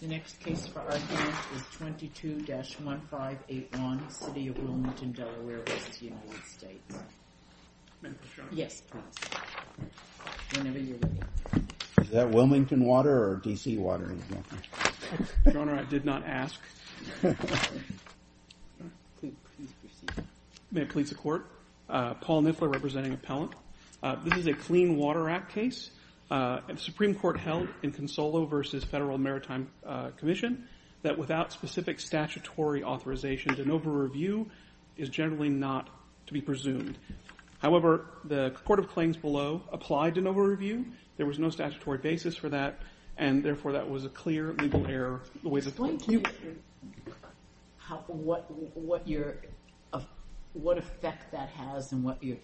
The next case for argument is 22-1581, City of Wilmington, Delaware v. United States. Yes, whenever you're ready. Is that Wilmington water or D.C. water? Your Honor, I did not ask. May it please the Court, Paul Niffler representing Appellant. This is a Clean Water Act case. The Supreme Court held in Consolo v. Federal Maritime Commission that without specific statutory authorization, de novo review is generally not to be presumed. However, the Court of Claims below applied de novo review. There was no statutory basis for that, and therefore that was a clear legal error. Explain to me what effect that has and what you're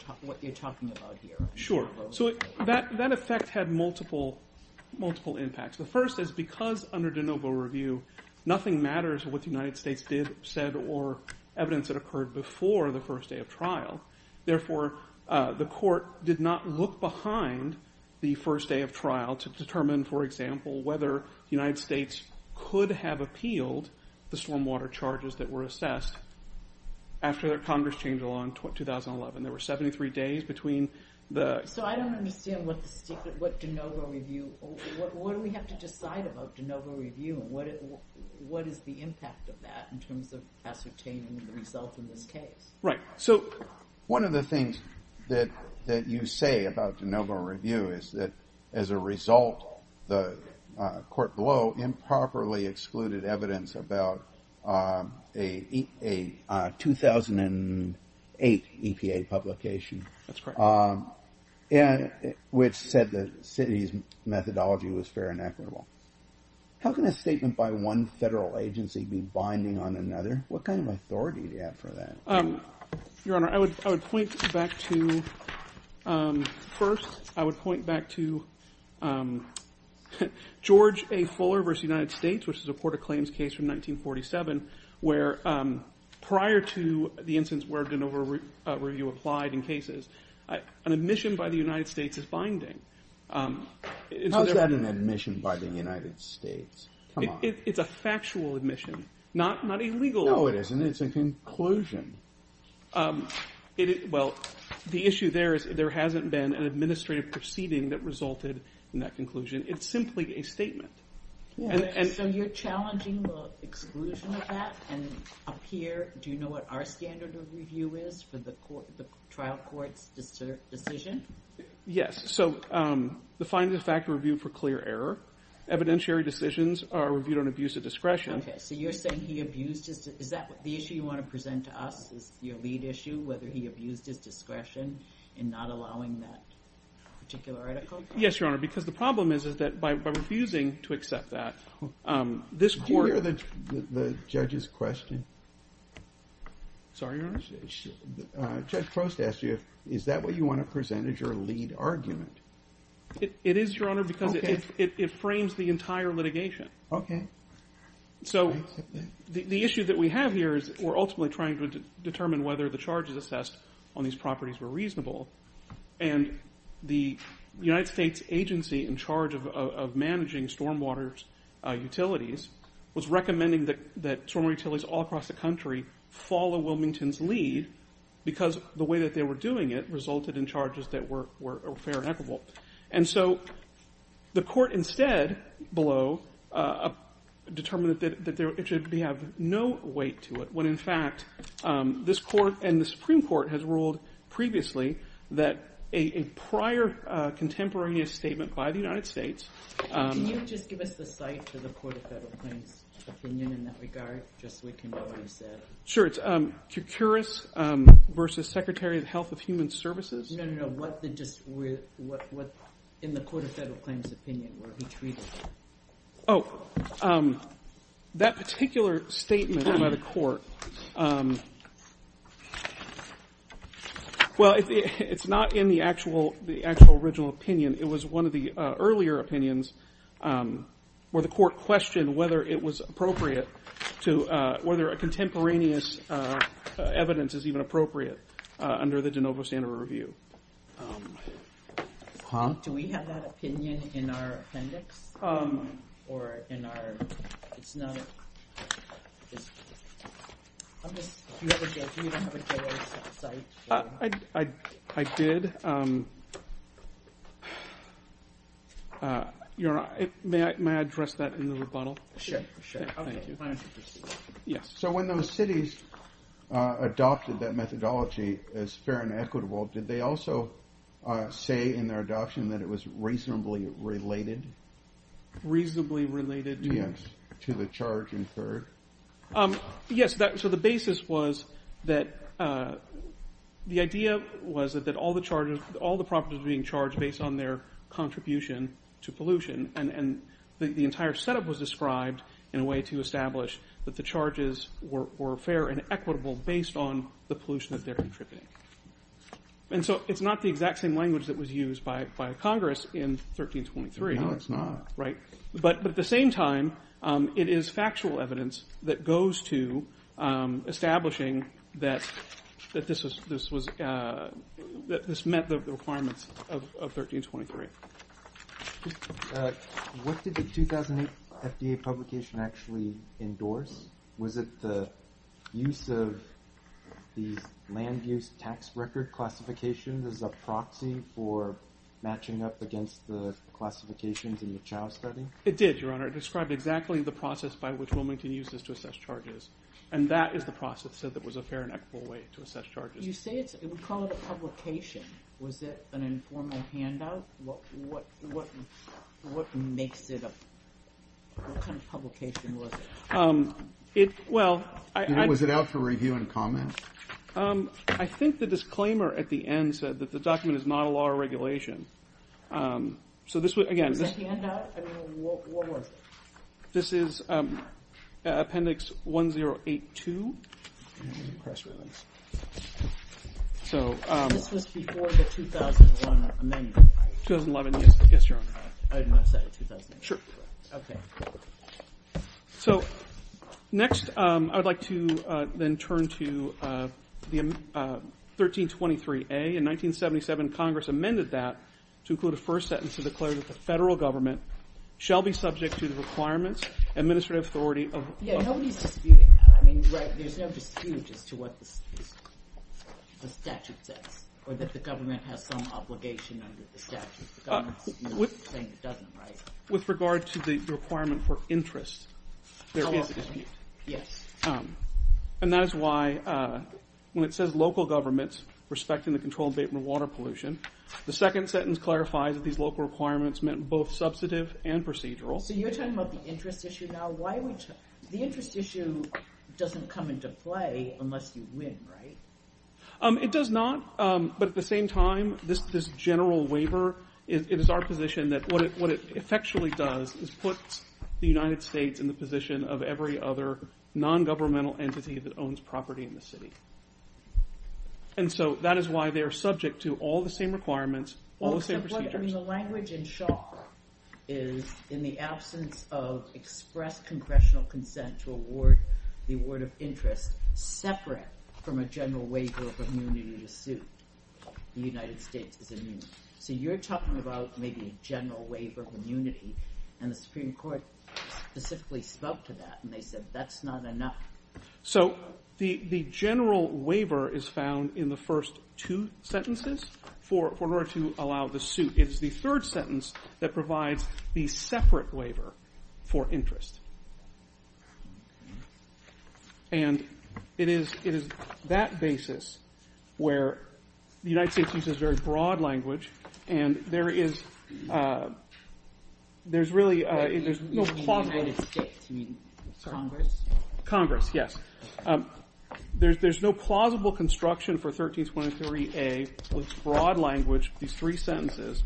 talking about here. Sure, so that effect had multiple impacts. The first is because under de novo review, nothing matters with what the United States did, said, or evidence that occurred before the first day of trial. Therefore, the Court did not look behind the first day of trial to determine, for example, whether the United States could have appealed the stormwater charges that were assessed after Congress changed the law in 2011. There were 73 days between the – So I don't understand what de novo review – what do we have to decide about de novo review? What is the impact of that in terms of ascertaining the result in this case? Right, so one of the things that you say about de novo review is that as a result, the court below improperly excluded evidence about a 2008 EPA publication, which said the city's methodology was fair and equitable. How can a statement by one federal agency be binding on another? What kind of authority do you have for that? Your Honor, I would point back to – first, I would point back to George A. Fuller v. United States, which is a court of claims case from 1947, where prior to the instance where de novo review applied in cases, an admission by the United States is binding. How is that an admission by the United States? Come on. It's a factual admission, not a legal one. No, it isn't. It's a conclusion. Well, the issue there is there hasn't been an administrative proceeding that resulted in that conclusion. It's simply a statement. So you're challenging the exclusion of that? And up here, do you know what our standard of review is for the trial court's decision? Yes, so the finding of fact review for clear error. Evidentiary decisions are reviewed on abuse of discretion. Okay, so you're saying he abused his – is that the issue you want to present to us, is your lead issue, whether he abused his discretion in not allowing that particular article? Yes, Your Honor, because the problem is that by refusing to accept that, this court – Do you hear the judge's question? Sorry, Your Honor? Judge Crost asked you if – is that what you want to present as your lead argument? It is, Your Honor, because it frames the entire litigation. Okay. So the issue that we have here is we're ultimately trying to determine whether the charges assessed on these properties were reasonable, and the United States agency in charge of managing stormwater utilities was recommending that stormwater utilities all across the country follow Wilmington's lead because the way that they were doing it resulted in charges that were fair and equitable. And so the court instead below determined that it should have no weight to it when, in fact, this court and the Supreme Court has ruled previously that a prior contemporaneous statement by the United States – Can you just give us the site for the Court of Federal Claims' opinion in that regard, just so we can know what he said? Sure, it's Kourkouris v. Secretary of the Health of Human Services. No, no, no. What in the Court of Federal Claims' opinion were he treated? Oh, that particular statement by the court – well, it's not in the actual original opinion. It was one of the earlier opinions where the court questioned whether it was appropriate to – Huh? Do we have that opinion in our appendix or in our – it's not – I'm just – do you have it there? Do you have it there as a site? I did. May I address that in the rebuttal? Sure, sure. Thank you. Yes. So when those cities adopted that methodology as fair and equitable, did they also say in their adoption that it was reasonably related? Reasonably related to? Yes, to the charge incurred. Yes, so the basis was that – the idea was that all the charges – all the properties were being charged based on their contribution to pollution, and the entire setup was described in a way to establish that the charges were fair and equitable based on the pollution that they're contributing. And so it's not the exact same language that was used by Congress in 1323. No, it's not. Right? But at the same time, it is factual evidence that goes to establishing that this was – that this met the requirements of 1323. What did the 2008 FDA publication actually endorse? Was it the use of these land use tax record classifications as a proxy for matching up against the classifications in the Chow study? It did, Your Honor. It described exactly the process by which Wilmington used this to assess charges, and that is the process that was a fair and equitable way to assess charges. You say it's – we call it a publication. Was it an informal handout? What makes it a – what kind of publication was it? It – well, I – Was it out for review and comment? I think the disclaimer at the end said that the document is not a law or regulation. So this – again, this – Was it a handout? I mean, what was it? This is Appendix 1082. Press release. So – This was before the 2001 amendment, right? 2011, yes, Your Honor. I did not say the 2001 amendment. Sure. Okay. So next, I would like to then turn to the 1323A. In 1977, Congress amended that to include a first sentence to declare that the federal government shall be subject to the requirements, administrative authority of – Yeah, nobody's disputing that. I mean, right, there's no dispute as to what the statute says or that the government has some obligation under the statute. The government's not saying it doesn't, right? With regard to the requirement for interest, there is a dispute. Yes. And that is why when it says local governments respecting the control of vapor and water pollution, the second sentence clarifies that these local requirements meant both substantive and procedural. So you're talking about the interest issue now? The interest issue doesn't come into play unless you win, right? It does not. But at the same time, this general waiver, it is our position that what it effectually does is put the United States in the position of every other non-governmental entity that owns property in the city. And so that is why they are subject to all the same requirements, all the same procedures. I mean, the language in Shaw is in the absence of express congressional consent to award the award of interest separate from a general waiver of immunity to suit. The United States is immune. So you're talking about maybe a general waiver of immunity, and the Supreme Court specifically spoke to that, and they said that's not enough. So the general waiver is found in the first two sentences in order to allow the suit. It is the third sentence that provides the separate waiver for interest. And it is that basis where the United States uses very broad language, and there is really no plausible – You mean the United States, you mean Congress? Congress, yes. There's no plausible construction for 1323A with broad language, these three sentences,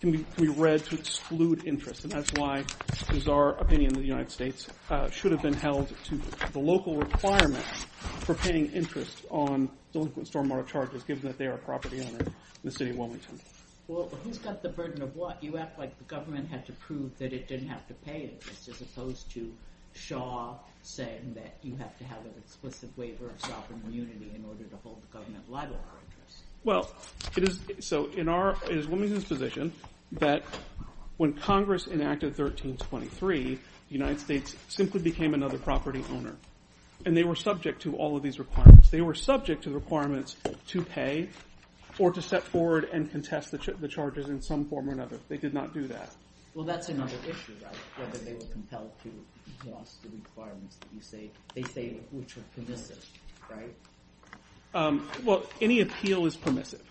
can be read to exclude interest. And that's why it is our opinion that the United States should have been held to the local requirements for paying interest on delinquent stormwater charges, given that they are a property owner in the city of Wilmington. Well, who's got the burden of what? You act like the government had to prove that it didn't have to pay interest, as opposed to Shaw saying that you have to have an explicit waiver of sovereign immunity in order to hold the government liable for interest. Well, it is – so in our – it is Wilmington's position that when Congress enacted 1323, the United States simply became another property owner, and they were subject to all of these requirements. They were subject to the requirements to pay or to step forward and contest the charges in some form or another. They did not do that. Well, that's another issue, right? Whether they were compelled to enforce the requirements that you say – they say which are permissive, right? Well, any appeal is permissive.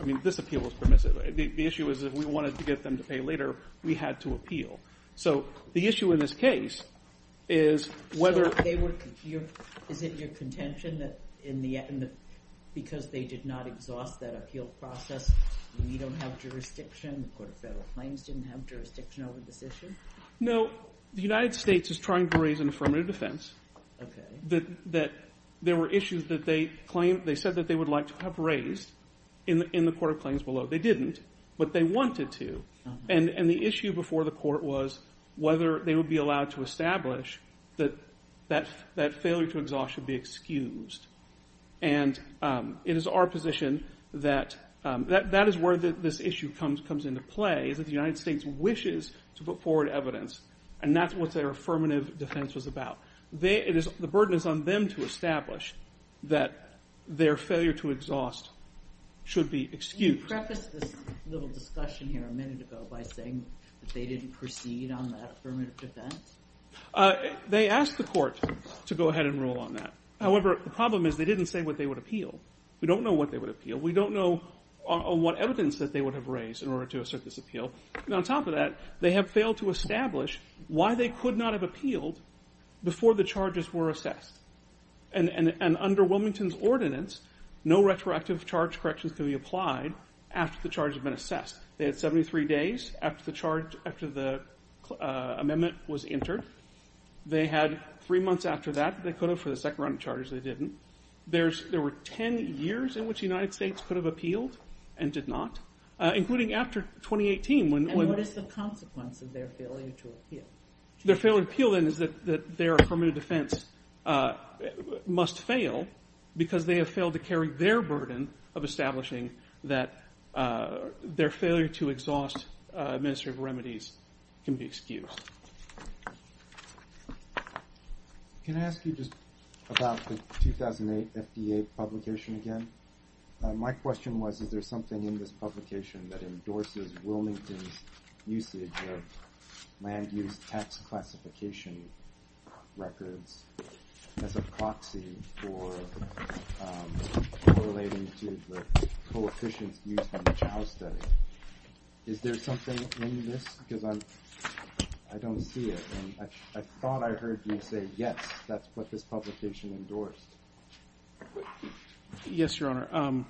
I mean this appeal was permissive. The issue is if we wanted to get them to pay later, we had to appeal. So the issue in this case is whether – So they were – is it your contention that in the – because they did not exhaust that appeal process, we don't have jurisdiction, the Court of Federal Claims didn't have jurisdiction over this issue? No. The United States is trying to raise an affirmative defense that there were issues that they claimed – they said that they would like to have raised in the Court of Claims below. They didn't, but they wanted to. And the issue before the court was whether they would be allowed to establish that that failure to exhaust should be excused. And it is our position that that is where this issue comes into play, is that the United States wishes to put forward evidence, and that's what their affirmative defense was about. The burden is on them to establish that their failure to exhaust should be excused. Can you preface this little discussion here a minute ago by saying that they didn't proceed on that affirmative defense? They asked the court to go ahead and rule on that. However, the problem is they didn't say what they would appeal. We don't know what they would appeal. We don't know what evidence that they would have raised in order to assert this appeal. And on top of that, they have failed to establish why they could not have appealed before the charges were assessed. And under Wilmington's ordinance, no retroactive charge corrections can be applied after the charge has been assessed. They had 73 days after the amendment was entered. They had three months after that they could have for the second round of charges. They didn't. There were ten years in which the United States could have appealed and did not, including after 2018. And what is the consequence of their failure to appeal? Their failure to appeal, then, is that their affirmative defense must fail because they have failed to carry their burden of establishing that their failure to exhaust administrative remedies can be excused. Can I ask you just about the 2008 FDA publication again? My question was, is there something in this publication that endorses Wilmington's usage of land use tax classification records as a proxy for relating to the coefficients used in the Chow study? Is there something in this? Because I don't see it. I thought I heard you say, yes, that's what this publication endorsed. Yes, Your Honor.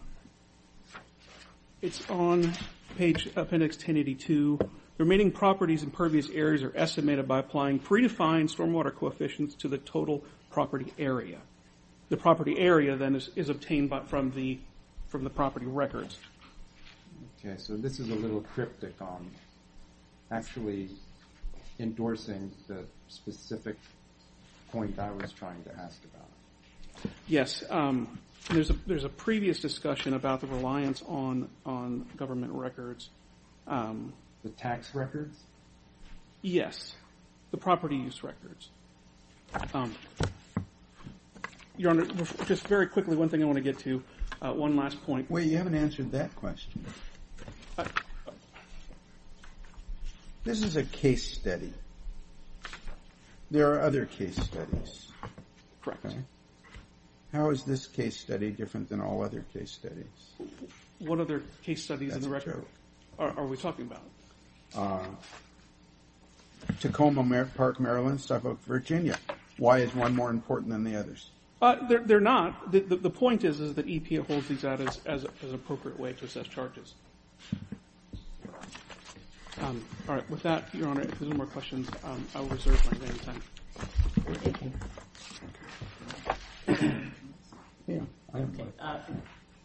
It's on page appendix 1082. The remaining properties in pervious areas are estimated by applying predefined stormwater coefficients to the total property area. The property area, then, is obtained from the property records. Okay, so this is a little cryptic on actually endorsing the specific point I was trying to ask about. Yes, there's a previous discussion about the reliance on government records. The tax records? Yes, the property use records. Your Honor, just very quickly, one thing I want to get to, one last point. Wait, you haven't answered that question. This is a case study. There are other case studies. Correct. How is this case study different than all other case studies? What other case studies in the record are we talking about? Tacoma, Park, Maryland, stuff of Virginia. Why is one more important than the others? They're not. The point is that EPA holds these out as an appropriate way to assess charges. All right, with that, Your Honor, if there's no more questions, I will reserve my time. Thank you.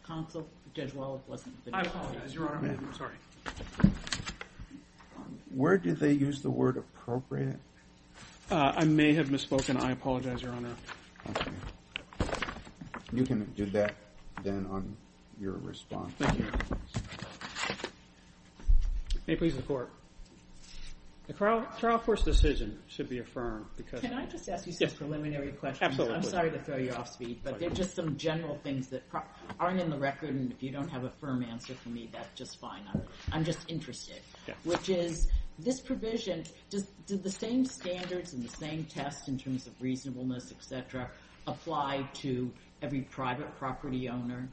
Counsel, Judge Weld wasn't finished. I apologize, Your Honor. Where did they use the word appropriate? I may have misspoken. I apologize, Your Honor. Okay. You can do that, then, on your response. Thank you. May it please the Court. The trial first decision should be affirmed. Can I just ask you some preliminary questions? Absolutely. I'm sorry to throw you off speed, but there are just some general things that aren't in the record, and if you don't have a firm answer for me, that's just fine. I'm just interested, which is this provision, did the same standards and the same tests in terms of reasonableness, et cetera, apply to every private property owner?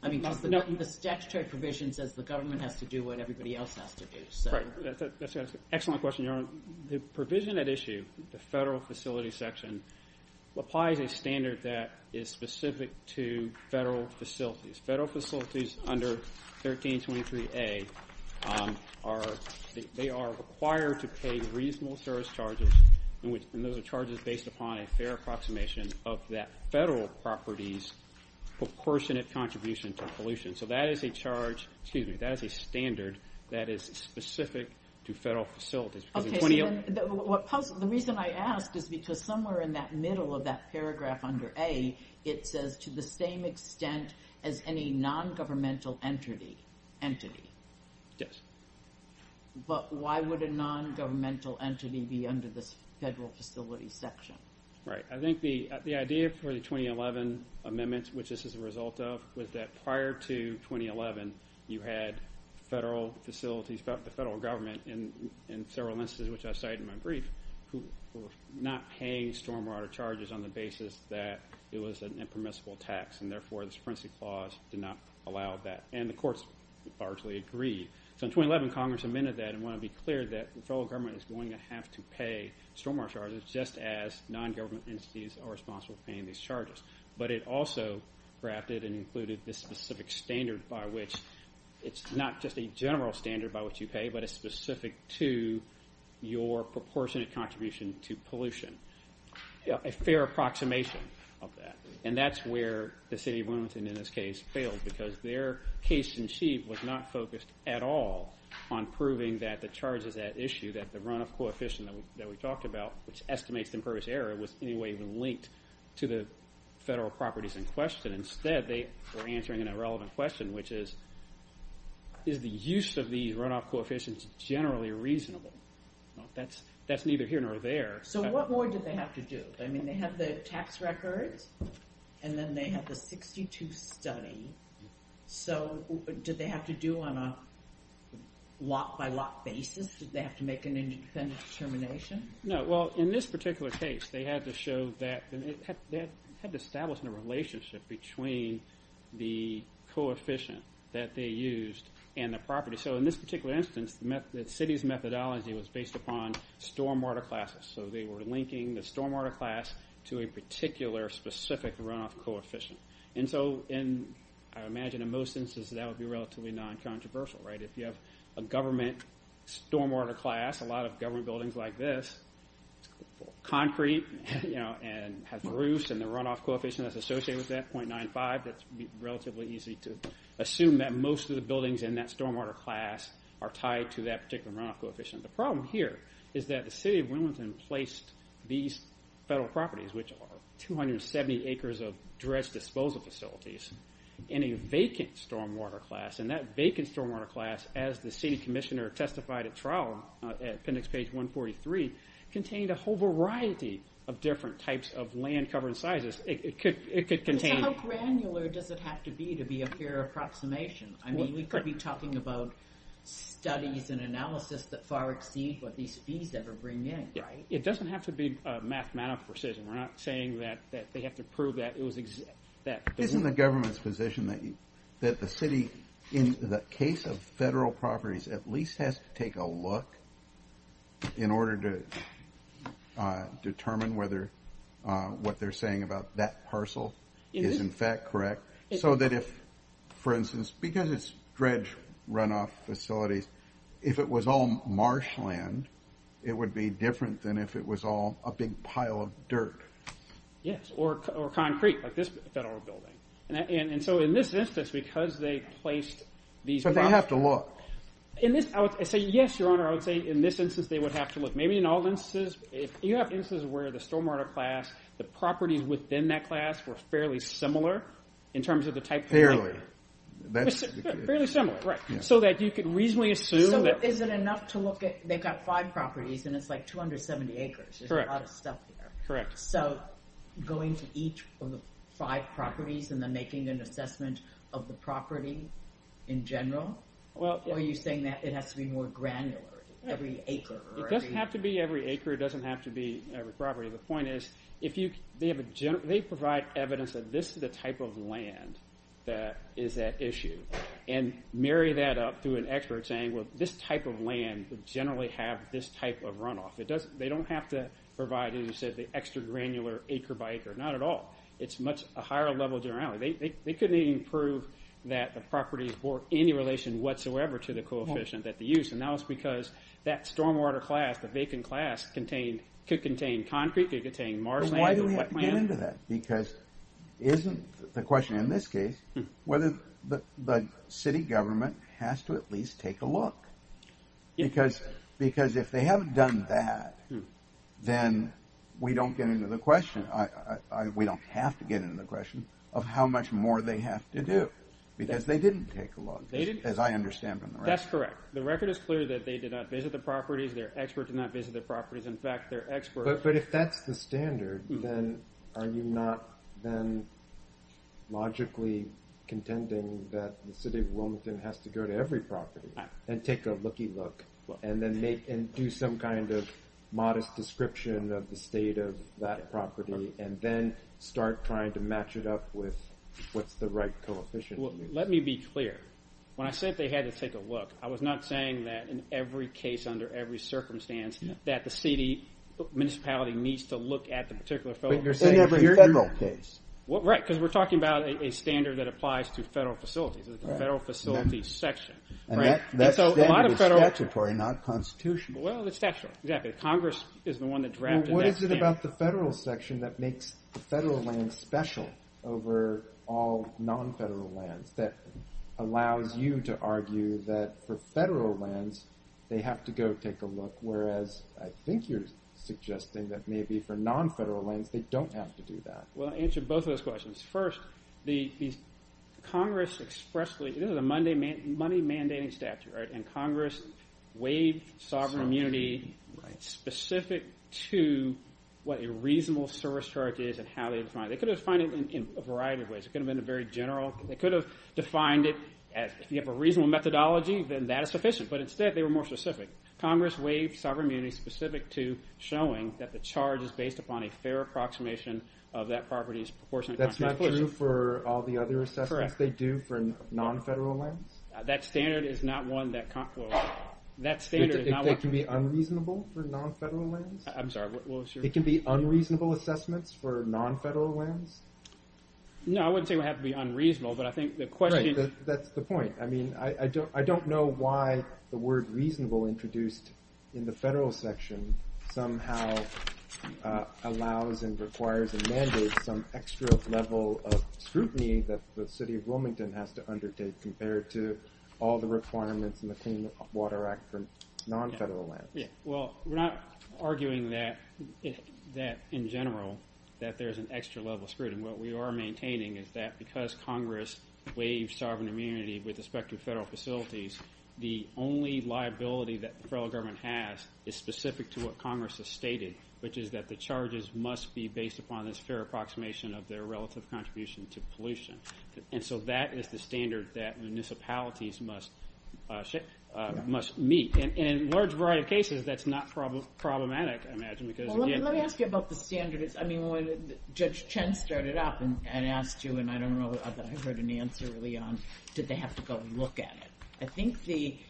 I mean, the statutory provision says the government has to do what everybody else has to do. That's an excellent question, Your Honor. The provision at issue, the federal facility section, applies a standard that is specific to federal facilities. Federal facilities under 1323A are required to pay reasonable service charges, and those are charges based upon a fair approximation of that federal property's proportionate contribution to pollution. So that is a standard that is specific to federal facilities. The reason I ask is because somewhere in that middle of that paragraph under A, it says to the same extent as any nongovernmental entity. Yes. But why would a nongovernmental entity be under this federal facility section? Right. I think the idea for the 2011 amendment, which this is a result of, was that prior to 2011, you had federal facilities, the federal government, in several instances, which I cited in my brief, who were not paying stormwater charges on the basis that it was an impermissible tax, and therefore this forensic clause did not allow that, and the courts largely agreed. So in 2011, Congress amended that and wanted to be clear that the federal government is going to have to pay stormwater charges just as nongovernmental entities are responsible for paying these charges. But it also drafted and included this specific standard by which it's not just a general standard by which you pay, but it's specific to your proportionate contribution to pollution, a fair approximation of that. And that's where the city of Wilmington, in this case, failed, because their case in chief was not focused at all on proving that the charges at issue, that the runoff coefficient that we talked about, which estimates the impervious error, was in any way linked to the federal properties in question. Instead, they were answering an irrelevant question, which is, is the use of these runoff coefficients generally reasonable? That's neither here nor there. So what more did they have to do? I mean, they have the tax records, and then they have the 62 study. So did they have to do on a lot-by-lot basis? Did they have to make an independent determination? No, well, in this particular case, they had to establish a relationship between the coefficient that they used and the property. So in this particular instance, the city's methodology was based upon stormwater classes. So they were linking the stormwater class to a particular specific runoff coefficient. And so I imagine in most instances that would be relatively non-controversial. If you have a government stormwater class, a lot of government buildings like this, concrete and have roofs and the runoff coefficient that's associated with that, 0.95, that's relatively easy to assume that most of the buildings in that stormwater class are tied to that particular runoff coefficient. The problem here is that the city of Wilmington placed these federal properties, which are 270 acres of dredged disposal facilities, in a vacant stormwater class. And that vacant stormwater class, as the city commissioner testified at trial, at appendix page 143, contained a whole variety of different types of land cover and sizes. It could contain... How granular does it have to be to be a fair approximation? I mean, we could be talking about studies and analysis that far exceed what these fees ever bring in, right? It doesn't have to be mathematical precision. We're not saying that they have to prove that it was exact. Isn't the government's position that the city, in the case of federal properties, at least has to take a look in order to determine whether what they're saying about that parcel is, in fact, correct? So that if, for instance, because it's dredged runoff facilities, if it was all marshland, it would be different than if it was all a big pile of dirt. Yes, or concrete, like this federal building. And so in this instance, because they placed these... But they have to look. Yes, Your Honor, I would say in this instance they would have to look. Maybe in all instances. If you have instances where the stormwater class, the properties within that class were fairly similar in terms of the type of... Fairly. Fairly similar, right. So that you could reasonably assume that... So is it enough to look at... They've got five properties, and it's like 270 acres. There's a lot of stuff there. Correct. So going to each of the five properties and then making an assessment of the property in general? Or are you saying that it has to be more granular? Every acre or every... It doesn't have to be every acre. It doesn't have to be every property. The point is, they provide evidence that this is the type of land that is at issue. And marry that up through an expert saying, well, this type of land would generally have this type of runoff. They don't have to provide, as you said, the extra granular acre by acre. Not at all. It's a higher level of generality. They couldn't even prove that the properties bore any relation whatsoever to the coefficient that they used. And that was because that stormwater class, the vacant class, could contain concrete. It could contain marshland. Why do we have to get into that? Because isn't the question in this case whether the city government has to at least take a look? Because if they haven't done that, then we don't get into the question. We don't have to get into the question of how much more they have to do. Because they didn't take a look, as I understand from the record. That's correct. The record is clear that they did not visit the properties. Their experts did not visit the properties. In fact, their experts. But if that's the standard, then are you not then logically contending that the city of Wilmington has to go to every property and take a looky look and do some kind of modest description of the state of that property and then start trying to match it up with what's the right coefficient? Let me be clear. When I said they had to take a look, I was not saying that in every case under every circumstance that the city municipality needs to look at the particular facility. But you're saying in every federal case. Right, because we're talking about a standard that applies to federal facilities. It's a federal facility section. And that standard is statutory, not constitutional. Well, it's statutory. Exactly. Congress is the one that drafted that standard. So what is it about the federal section that makes the federal land special over all non-federal lands that allows you to argue that for federal lands they have to go take a look, whereas I think you're suggesting that maybe for non-federal lands they don't have to do that. Well, I'll answer both of those questions. First, Congress expressly – this is a money mandating statute, right? And Congress waived sovereign immunity specific to what a reasonable service charge is and how they define it. They could have defined it in a variety of ways. It could have been a very general – they could have defined it as if you have a reasonable methodology, then that is sufficient. But instead, they were more specific. Congress waived sovereign immunity specific to showing that the charge is based upon a fair approximation of that property's proportionate contribution. That's not true for all the other assessments they do for non-federal lands? That standard is not one that – well, that standard is not one – It can be unreasonable for non-federal lands? I'm sorry, what was your – It can be unreasonable assessments for non-federal lands? No, I wouldn't say it would have to be unreasonable, but I think the question – Right, that's the point. I mean, I don't know why the word reasonable introduced in the federal section somehow allows and requires and mandates some extra level of scrutiny that the city of Wilmington has to undertake compared to all the requirements in the Clean Water Act for non-federal lands. Well, we're not arguing that in general that there's an extra level of scrutiny. What we are maintaining is that because Congress waived sovereign immunity with respect to federal facilities, the only liability that the federal government has is specific to what Congress has stated, which is that the charges must be based upon this fair approximation of their relative contribution to pollution. And so that is the standard that municipalities must meet. And in a large variety of cases, that's not problematic, I imagine, because again – Well, let me ask you about the standards. I mean, when Judge Chen started up and asked you, and I don't know that I heard an answer early on, did they have to go look at it? I think the –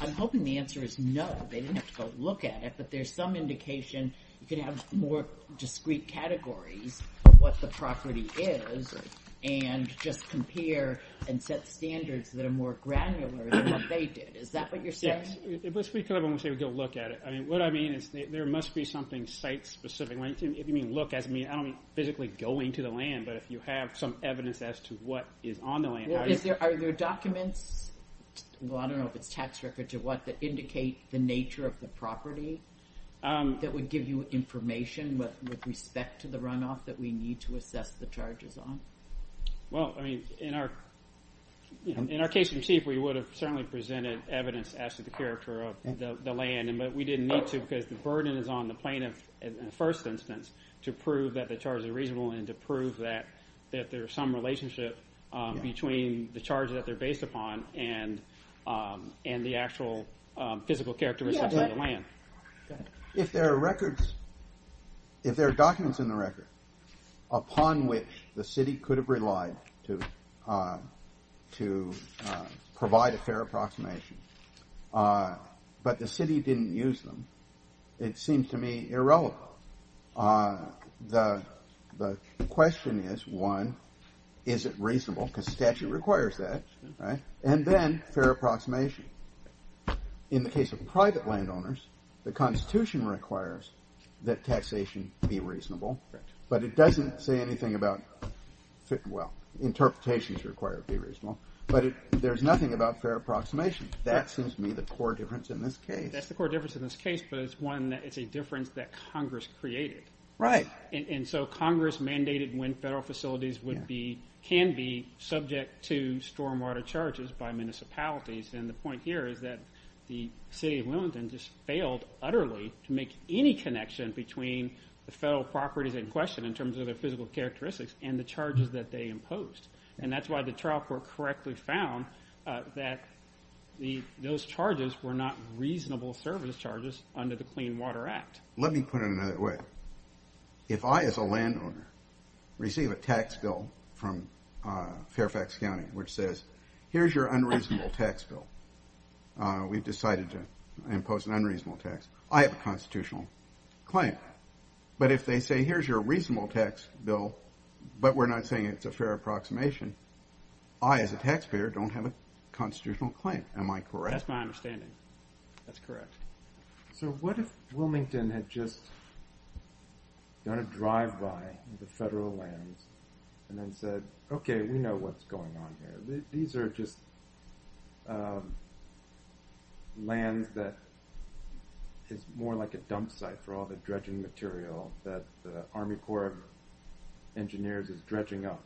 I'm hoping the answer is no, they didn't have to go look at it, but there's some indication you could have more discrete categories of what the property is and just compare and set standards that are more granular than what they did. Is that what you're saying? Yes. We could have them say, go look at it. I mean, what I mean is there must be something site-specific. If you mean look, I don't mean physically going to the land, but if you have some evidence as to what is on the land. Are there documents – well, I don't know if it's tax records or what – that would give you information with respect to the runoff that we need to assess the charges on? Well, I mean, in our case in chief, we would have certainly presented evidence as to the character of the land, but we didn't need to because the burden is on the plaintiff in the first instance to prove that the charge is reasonable and to prove that there's some relationship between the charges that they're based upon and the actual physical characteristics of the land. If there are records – if there are documents in the record upon which the city could have relied to provide a fair approximation, but the city didn't use them, it seems to me irrelevant. So the question is, one, is it reasonable? Because statute requires that, right? And then fair approximation. In the case of private landowners, the Constitution requires that taxation be reasonable, but it doesn't say anything about – well, interpretations require it to be reasonable, but there's nothing about fair approximation. That seems to me the core difference in this case. But it's one that – it's a difference that Congress created. Right. And so Congress mandated when federal facilities would be – can be subject to stormwater charges by municipalities. And the point here is that the city of Wilmington just failed utterly to make any connection between the federal properties in question in terms of their physical characteristics and the charges that they imposed. And that's why the trial court correctly found that those charges were not reasonable service charges under the Clean Water Act. Let me put it another way. If I, as a landowner, receive a tax bill from Fairfax County which says, here's your unreasonable tax bill, we've decided to impose an unreasonable tax, I have a constitutional claim. But if they say, here's your reasonable tax bill, but we're not saying it's a fair approximation, I, as a taxpayer, don't have a constitutional claim. Am I correct? That's my understanding. That's correct. So what if Wilmington had just done a drive-by of the federal lands and then said, okay, we know what's going on here. These are just lands that is more like a dump site for all the dredging material that the Army Corps of Engineers is dredging up.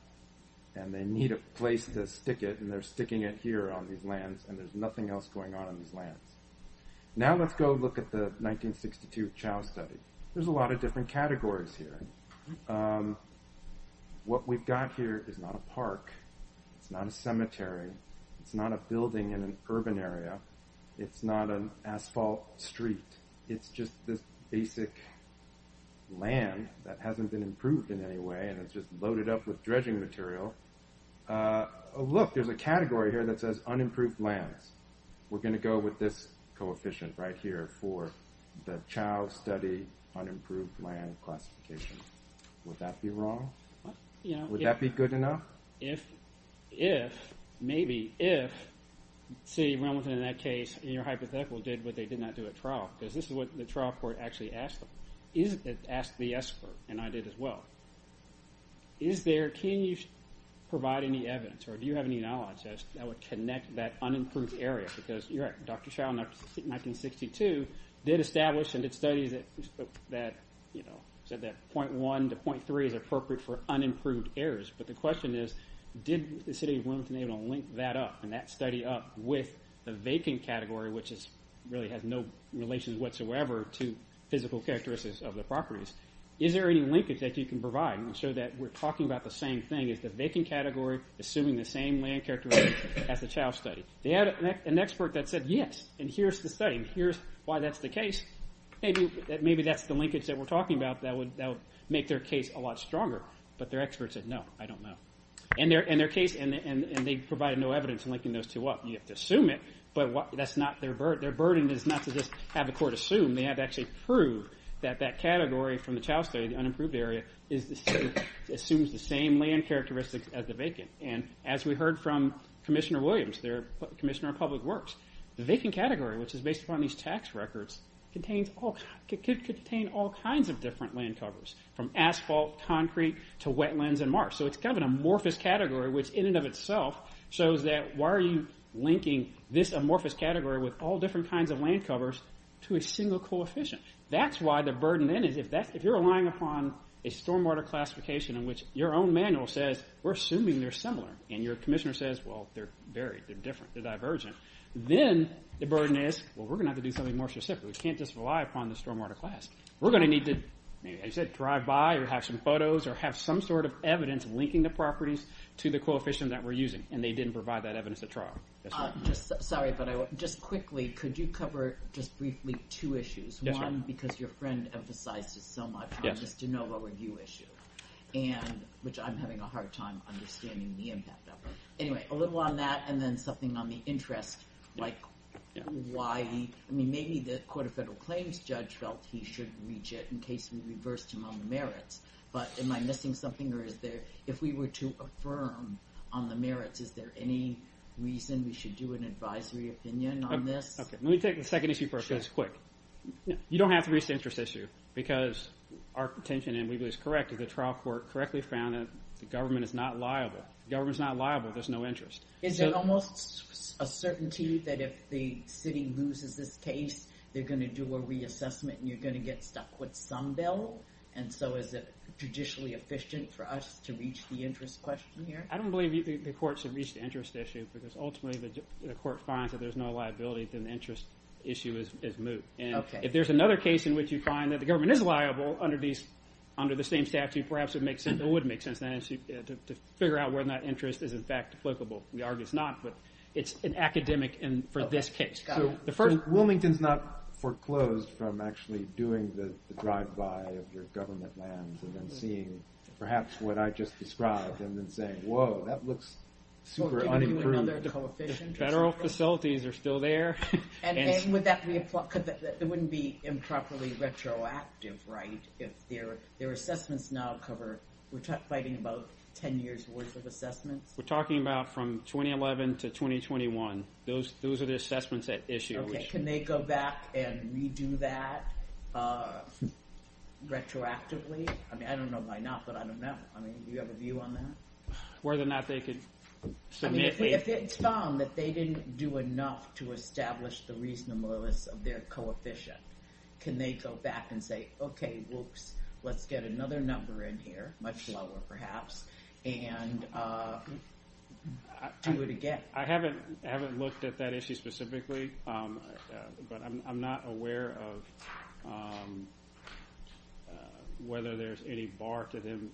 And they need a place to stick it and they're sticking it here on these lands and there's nothing else going on in these lands. Now let's go look at the 1962 Chow study. There's a lot of different categories here. What we've got here is not a park. It's not a cemetery. It's not a building in an urban area. It's not an asphalt street. It's just this basic land that hasn't been improved in any way and it's just loaded up with dredging material. Look, there's a category here that says unimproved lands. We're going to go with this coefficient right here for the Chow study unimproved land classification. Would that be wrong? Would that be good enough? If, maybe if, say Wilmington in that case, in your hypothetical, did what they did not do at trial, because this is what the trial court actually asked them, asked the expert, and I did as well, can you provide any evidence or do you have any knowledge that would connect that unimproved area? Because you're right, Dr. Chow in 1962 did establish and did studies that said that 0.1 to 0.3 is appropriate for unimproved areas. But the question is, did the city of Wilmington link that up and that study up with the vacant category, which really has no relation whatsoever to physical characteristics of the properties? Is there any linkage that you can provide? I'm sure that we're talking about the same thing. Is the vacant category assuming the same land characteristics as the Chow study? They had an expert that said yes, and here's the study, and here's why that's the case. Maybe that's the linkage that we're talking about that would make their case a lot stronger. But their expert said no, I don't know. And their case, and they provided no evidence linking those two up. You have to assume it, but that's not their burden. Their burden is not to just have the court assume. They have to actually prove that that category from the Chow study, the unimproved area, assumes the same land characteristics as the vacant. And as we heard from Commissioner Williams, their Commissioner of Public Works, the vacant category, which is based upon these tax records, could contain all kinds of different land covers, from asphalt, concrete, to wetlands and marsh. So it's kind of an amorphous category, which in and of itself shows that why are you linking this amorphous category with all different kinds of land covers to a single coefficient? That's why the burden then is, if you're relying upon a stormwater classification in which your own manual says, we're assuming they're similar, and your commissioner says, well, they're varied, they're different, they're divergent, then the burden is, well, we're going to have to do something more specific. We can't just rely upon the stormwater class. We're going to need to, as you said, drive by or have some photos or have some sort of evidence linking the properties to the coefficient that we're using. And they didn't provide that evidence at trial. Sorry, but just quickly, could you cover just briefly two issues? One, because your friend emphasized it so much, on this de novo review issue, which I'm having a hard time understanding the impact of. Anyway, a little on that, and then something on the interest, like why, I mean, maybe the Court of Federal Claims judge felt he should reach it in case we reversed him on the merits, but am I missing something, or is there, if we were to affirm on the merits, is there any reason we should do an advisory opinion on this? Okay, let me take the second issue first, because it's quick. You don't have to reach the interest issue, because our contention, and we believe it's correct, is the trial court correctly found that the government is not liable. The government's not liable if there's no interest. Is there almost a certainty that if the city loses this case, they're going to do a reassessment and you're going to get stuck with some bill? And so is it judicially efficient for us to reach the interest question here? I don't believe the court should reach the interest issue because ultimately the court finds that there's no liability and the interest issue is moved. And if there's another case in which you find that the government is liable under the same statute, perhaps it would make sense to figure out whether that interest is in fact applicable. We argue it's not, but it's an academic for this case. So Wilmington's not foreclosed from actually doing the drive-by of your government lands and then seeing perhaps what I just described and then saying, whoa, that looks super unimproved. Federal facilities are still there. It wouldn't be improperly retroactive, right, if their assessments now cover... We're fighting about 10 years worth of assessments? We're talking about from 2011 to 2021. Those are the assessments at issue. Can they go back and redo that retroactively? I don't know why not, but I don't know. Do you have a view on that? Whether or not they could submit... If it's found that they didn't do enough to establish the reasonableness of their coefficient, can they go back and say, okay, whoops, let's get another number in here, much lower perhaps, and do it again? I haven't looked at that issue specifically, but I'm not aware of whether there's any bar to them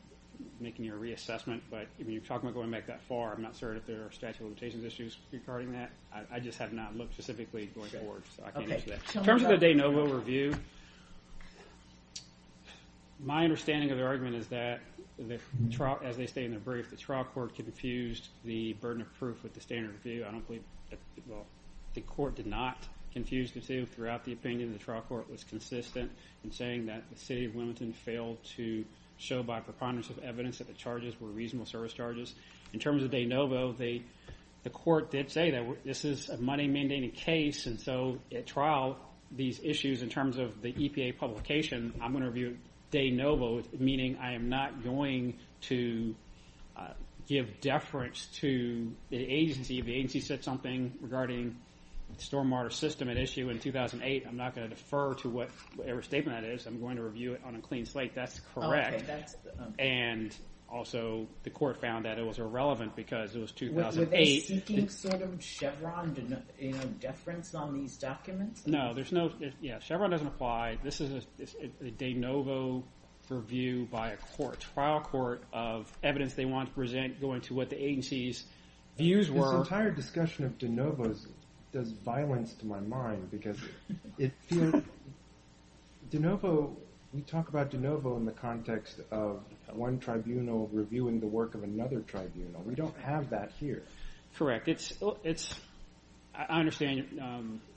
making a reassessment, but when you're talking about going back that far, I'm not certain if there are statute of limitations issues regarding that. I just have not looked specifically going forward, so I can't answer that. In terms of the de novo review, my understanding of their argument is that as they state in their brief, the trial court confused the burden of proof with the standard review. I don't believe... Well, the court did not confuse the two. Throughout the opinion, the trial court was consistent in saying that the city of Wilmington failed to show by preponderance of evidence that the charges were reasonable service charges. In terms of de novo, the court did say that this is a money-mandating case, and so at trial, these issues in terms of the EPA publication, I'm going to review de novo, meaning I am not going to give deference to the agency. If the agency said something regarding stormwater system at issue in 2008, I'm not going to defer to whatever statement that is. I'm going to review it on a clean slate. That's correct. And also, the court found that it was irrelevant because it was 2008. Were they seeking sort of Chevron deference on these documents? No, there's no... Yeah, Chevron doesn't apply. This is a de novo review by a trial court of evidence they want to present going to what the agency's views were. This entire discussion of de novos does violence to my mind because it feels... De novo, we talk about de novo in the context of one tribunal reviewing the work of another tribunal. We don't have that here. Correct. I understand.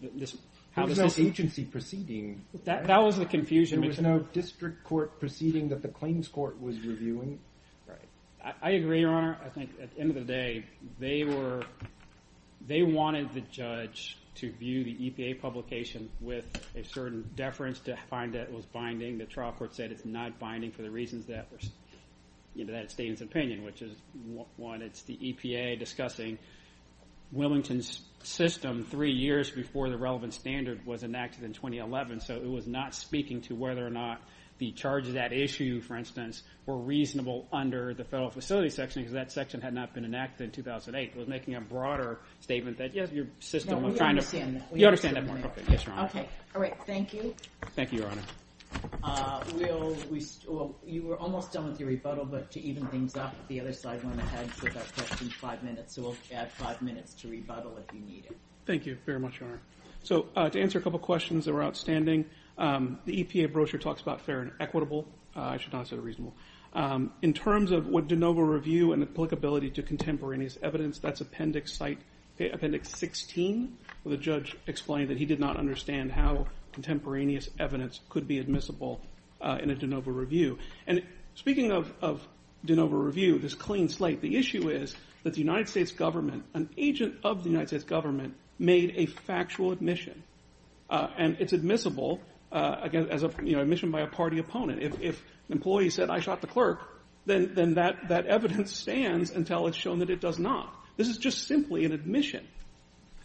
There was no agency proceeding. That was the confusion. There was no district court proceeding that the claims court was reviewing. Right. I agree, Your Honor. I think at the end of the day, they wanted the judge to view the EPA publication with a certain deference to find that it was binding. The trial court said it's not binding for the reasons that it stated in its opinion, which is one, it's the EPA discussing Wilmington's system three years before the relevant standard was enacted in 2011, so it was not speaking to whether or not the charges at issue, for instance, were reasonable under the federal facility section because that section had not been enacted in 2008. It was making a broader statement that, yes, your system... No, we understand that. You understand that more. Yes, Your Honor. All right, thank you. Thank you, Your Honor. You were almost done with your rebuttal, but to even things up, the other side went ahead and said that question's five minutes, so we'll add five minutes to rebuttal if you need it. Thank you very much, Your Honor. To answer a couple questions that were outstanding, the EPA brochure talks about fair and equitable. I should not have said reasonable. In terms of what de novo review and applicability to contemporaneous evidence, that's appendix 16 where the judge explained that he did not understand how contemporaneous evidence could be admissible in a de novo review. And speaking of de novo review, this clean slate, the issue is that the United States government, an agent of the United States government, made a factual admission, and it's admissible as admission by a party opponent. If an employee said, I shot the clerk, then that evidence stands until it's shown that it does not. This is just simply an admission.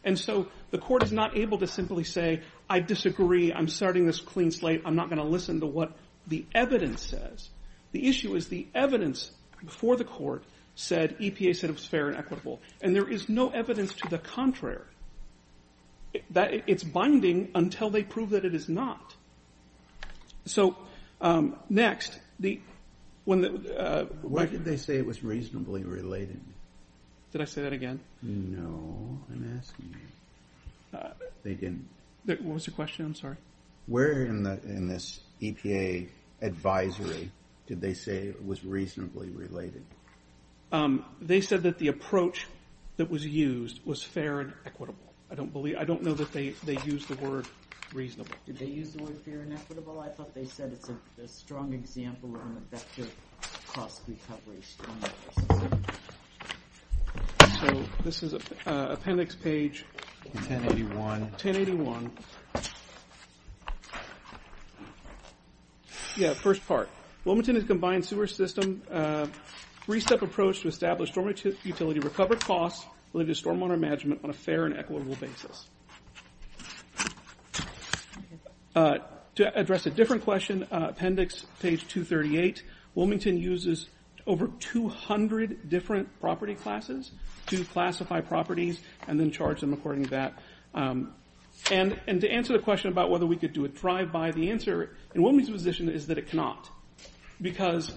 And so the court is not able to simply say, I disagree, I'm starting this clean slate, I'm not going to listen to what the evidence says. The issue is the evidence before the court said, EPA said it was fair and equitable, and there is no evidence to the contrary. It's binding until they prove that it is not. So next, the... Why did they say it was reasonably related? Did I say that again? No, I'm asking you. They didn't. What was the question? I'm sorry. Where in this EPA advisory did they say it was reasonably related? They said that the approach that was used was fair and equitable. I don't know that they used the word reasonable. Did they use the word fair and equitable? I thought they said it's a strong example of an effective cost recovery strategy. So this is appendix page... 1081. 1081. Yeah, first part. Wilmington has combined sewer system, three-step approach to establish storm utility recovery costs related to storm water management on a fair and equitable basis. To address a different question, appendix page 238, Wilmington uses over 200 different property classes to classify properties and then charge them according to that. And to answer the question about whether we could do a drive-by, the answer in Wilmington's position is that it cannot because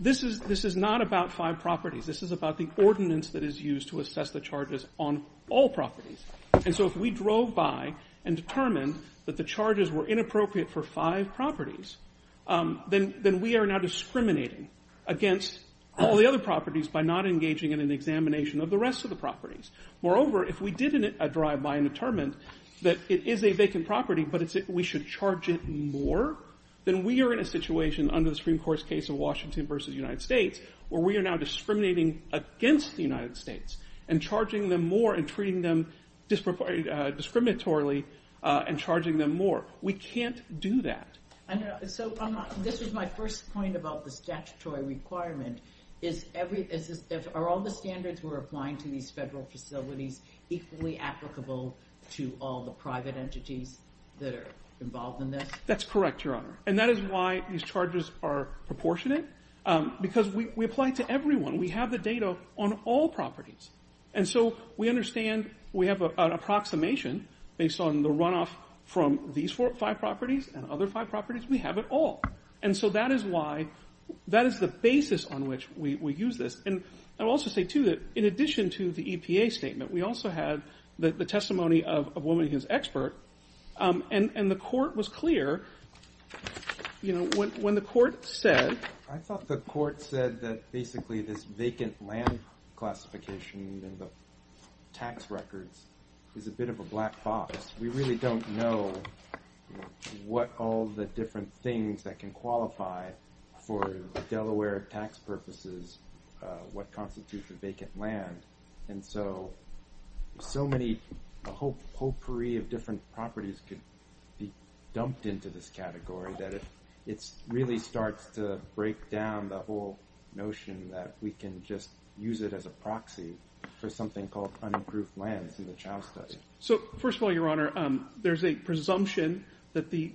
this is not about five properties. This is about the ordinance that is used to assess the charges on all properties. And so if we drove by and determined that the charges were inappropriate for five properties, then we are now discriminating against all the other properties by not engaging in an examination of the rest of the properties. Moreover, if we did a drive-by and determined that it is a vacant property but we should charge it more, then we are in a situation under the Supreme Court's case of Washington v. United States where we are now discriminating against the United States and charging them more and treating them discriminatorily and charging them more. We can't do that. So this was my first point about the statutory requirement. Are all the standards we're applying to these federal facilities equally applicable to all the private entities that are involved in this? That's correct, Your Honor. And that is why these charges are proportionate because we apply it to everyone. We have the data on all properties. And so we understand we have an approximation based on the runoff from these five properties and other five properties. We have it all. And so that is the basis on which we use this. And I'll also say, too, that in addition to the EPA statement, we also had the testimony of a woman who is an expert, and the court was clear. When the court said... I thought the court said that basically this vacant land classification and the tax records is a bit of a black box. We really don't know what all the different things that can qualify for Delaware tax purposes what constitutes a vacant land. And so so many, a whole potpourri of different properties could be dumped into this category that it really starts to break down the whole notion that we can just use it as a proxy for something called unapproved lands in the Chow study. So first of all, Your Honor, there's a presumption that the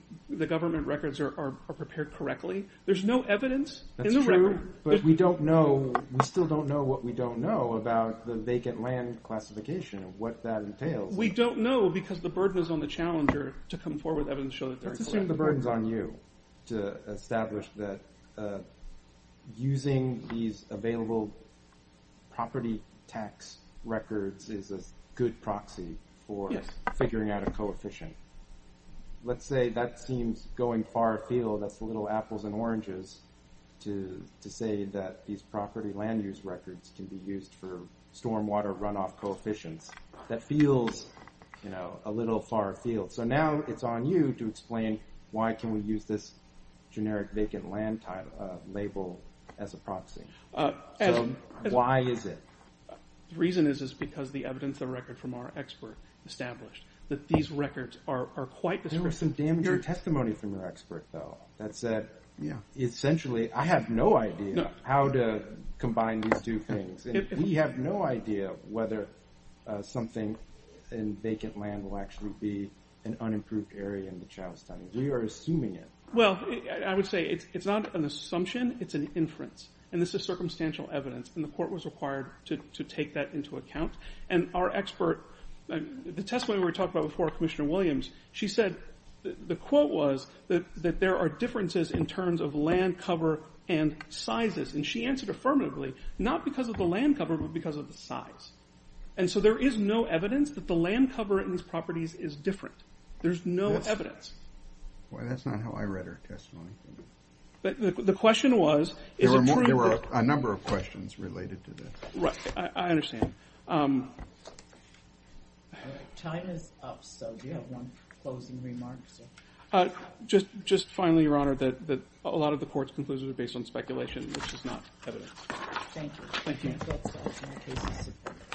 government records are prepared correctly. There's no evidence in the record. That's true, but we don't know. We still don't know what we don't know about the vacant land classification and what that entails. We don't know because the burden is on the challenger to come forward with evidence to show that they're incorrect. That's assuming the burden's on you to establish that using these available property tax records is a good proxy for figuring out a coefficient. Let's say that seems going far afield. That's a little apples and oranges to say that these property land use records can be used for stormwater runoff coefficients. That feels, you know, a little far afield. So now it's on you to explain why can we use this generic vacant land label as a proxy. So why is it? The reason is because the evidence in the record from our expert established that these records are quite the same. There was some damaging testimony from your expert, though. That said, essentially, I have no idea how to combine these two things. We have no idea whether something in vacant land will actually be an unimproved area in the child's time. We are assuming it. Well, I would say it's not an assumption, it's an inference. And this is circumstantial evidence, and the court was required to take that into account. And our expert, the testimony we were talking about before Commissioner Williams, she said the quote was that there are differences in terms of land cover and sizes. And she answered affirmatively, not because of the land cover, but because of the size. And so there is no evidence that the land cover in these properties is different. There's no evidence. Boy, that's not how I read her testimony. The question was... There were a number of questions related to this. Right, I understand. Time is up, so do you have one closing remark, sir? Just finally, Your Honor, that a lot of the court's conclusions are based on speculation, which is not evidence. Thank you. Thank you.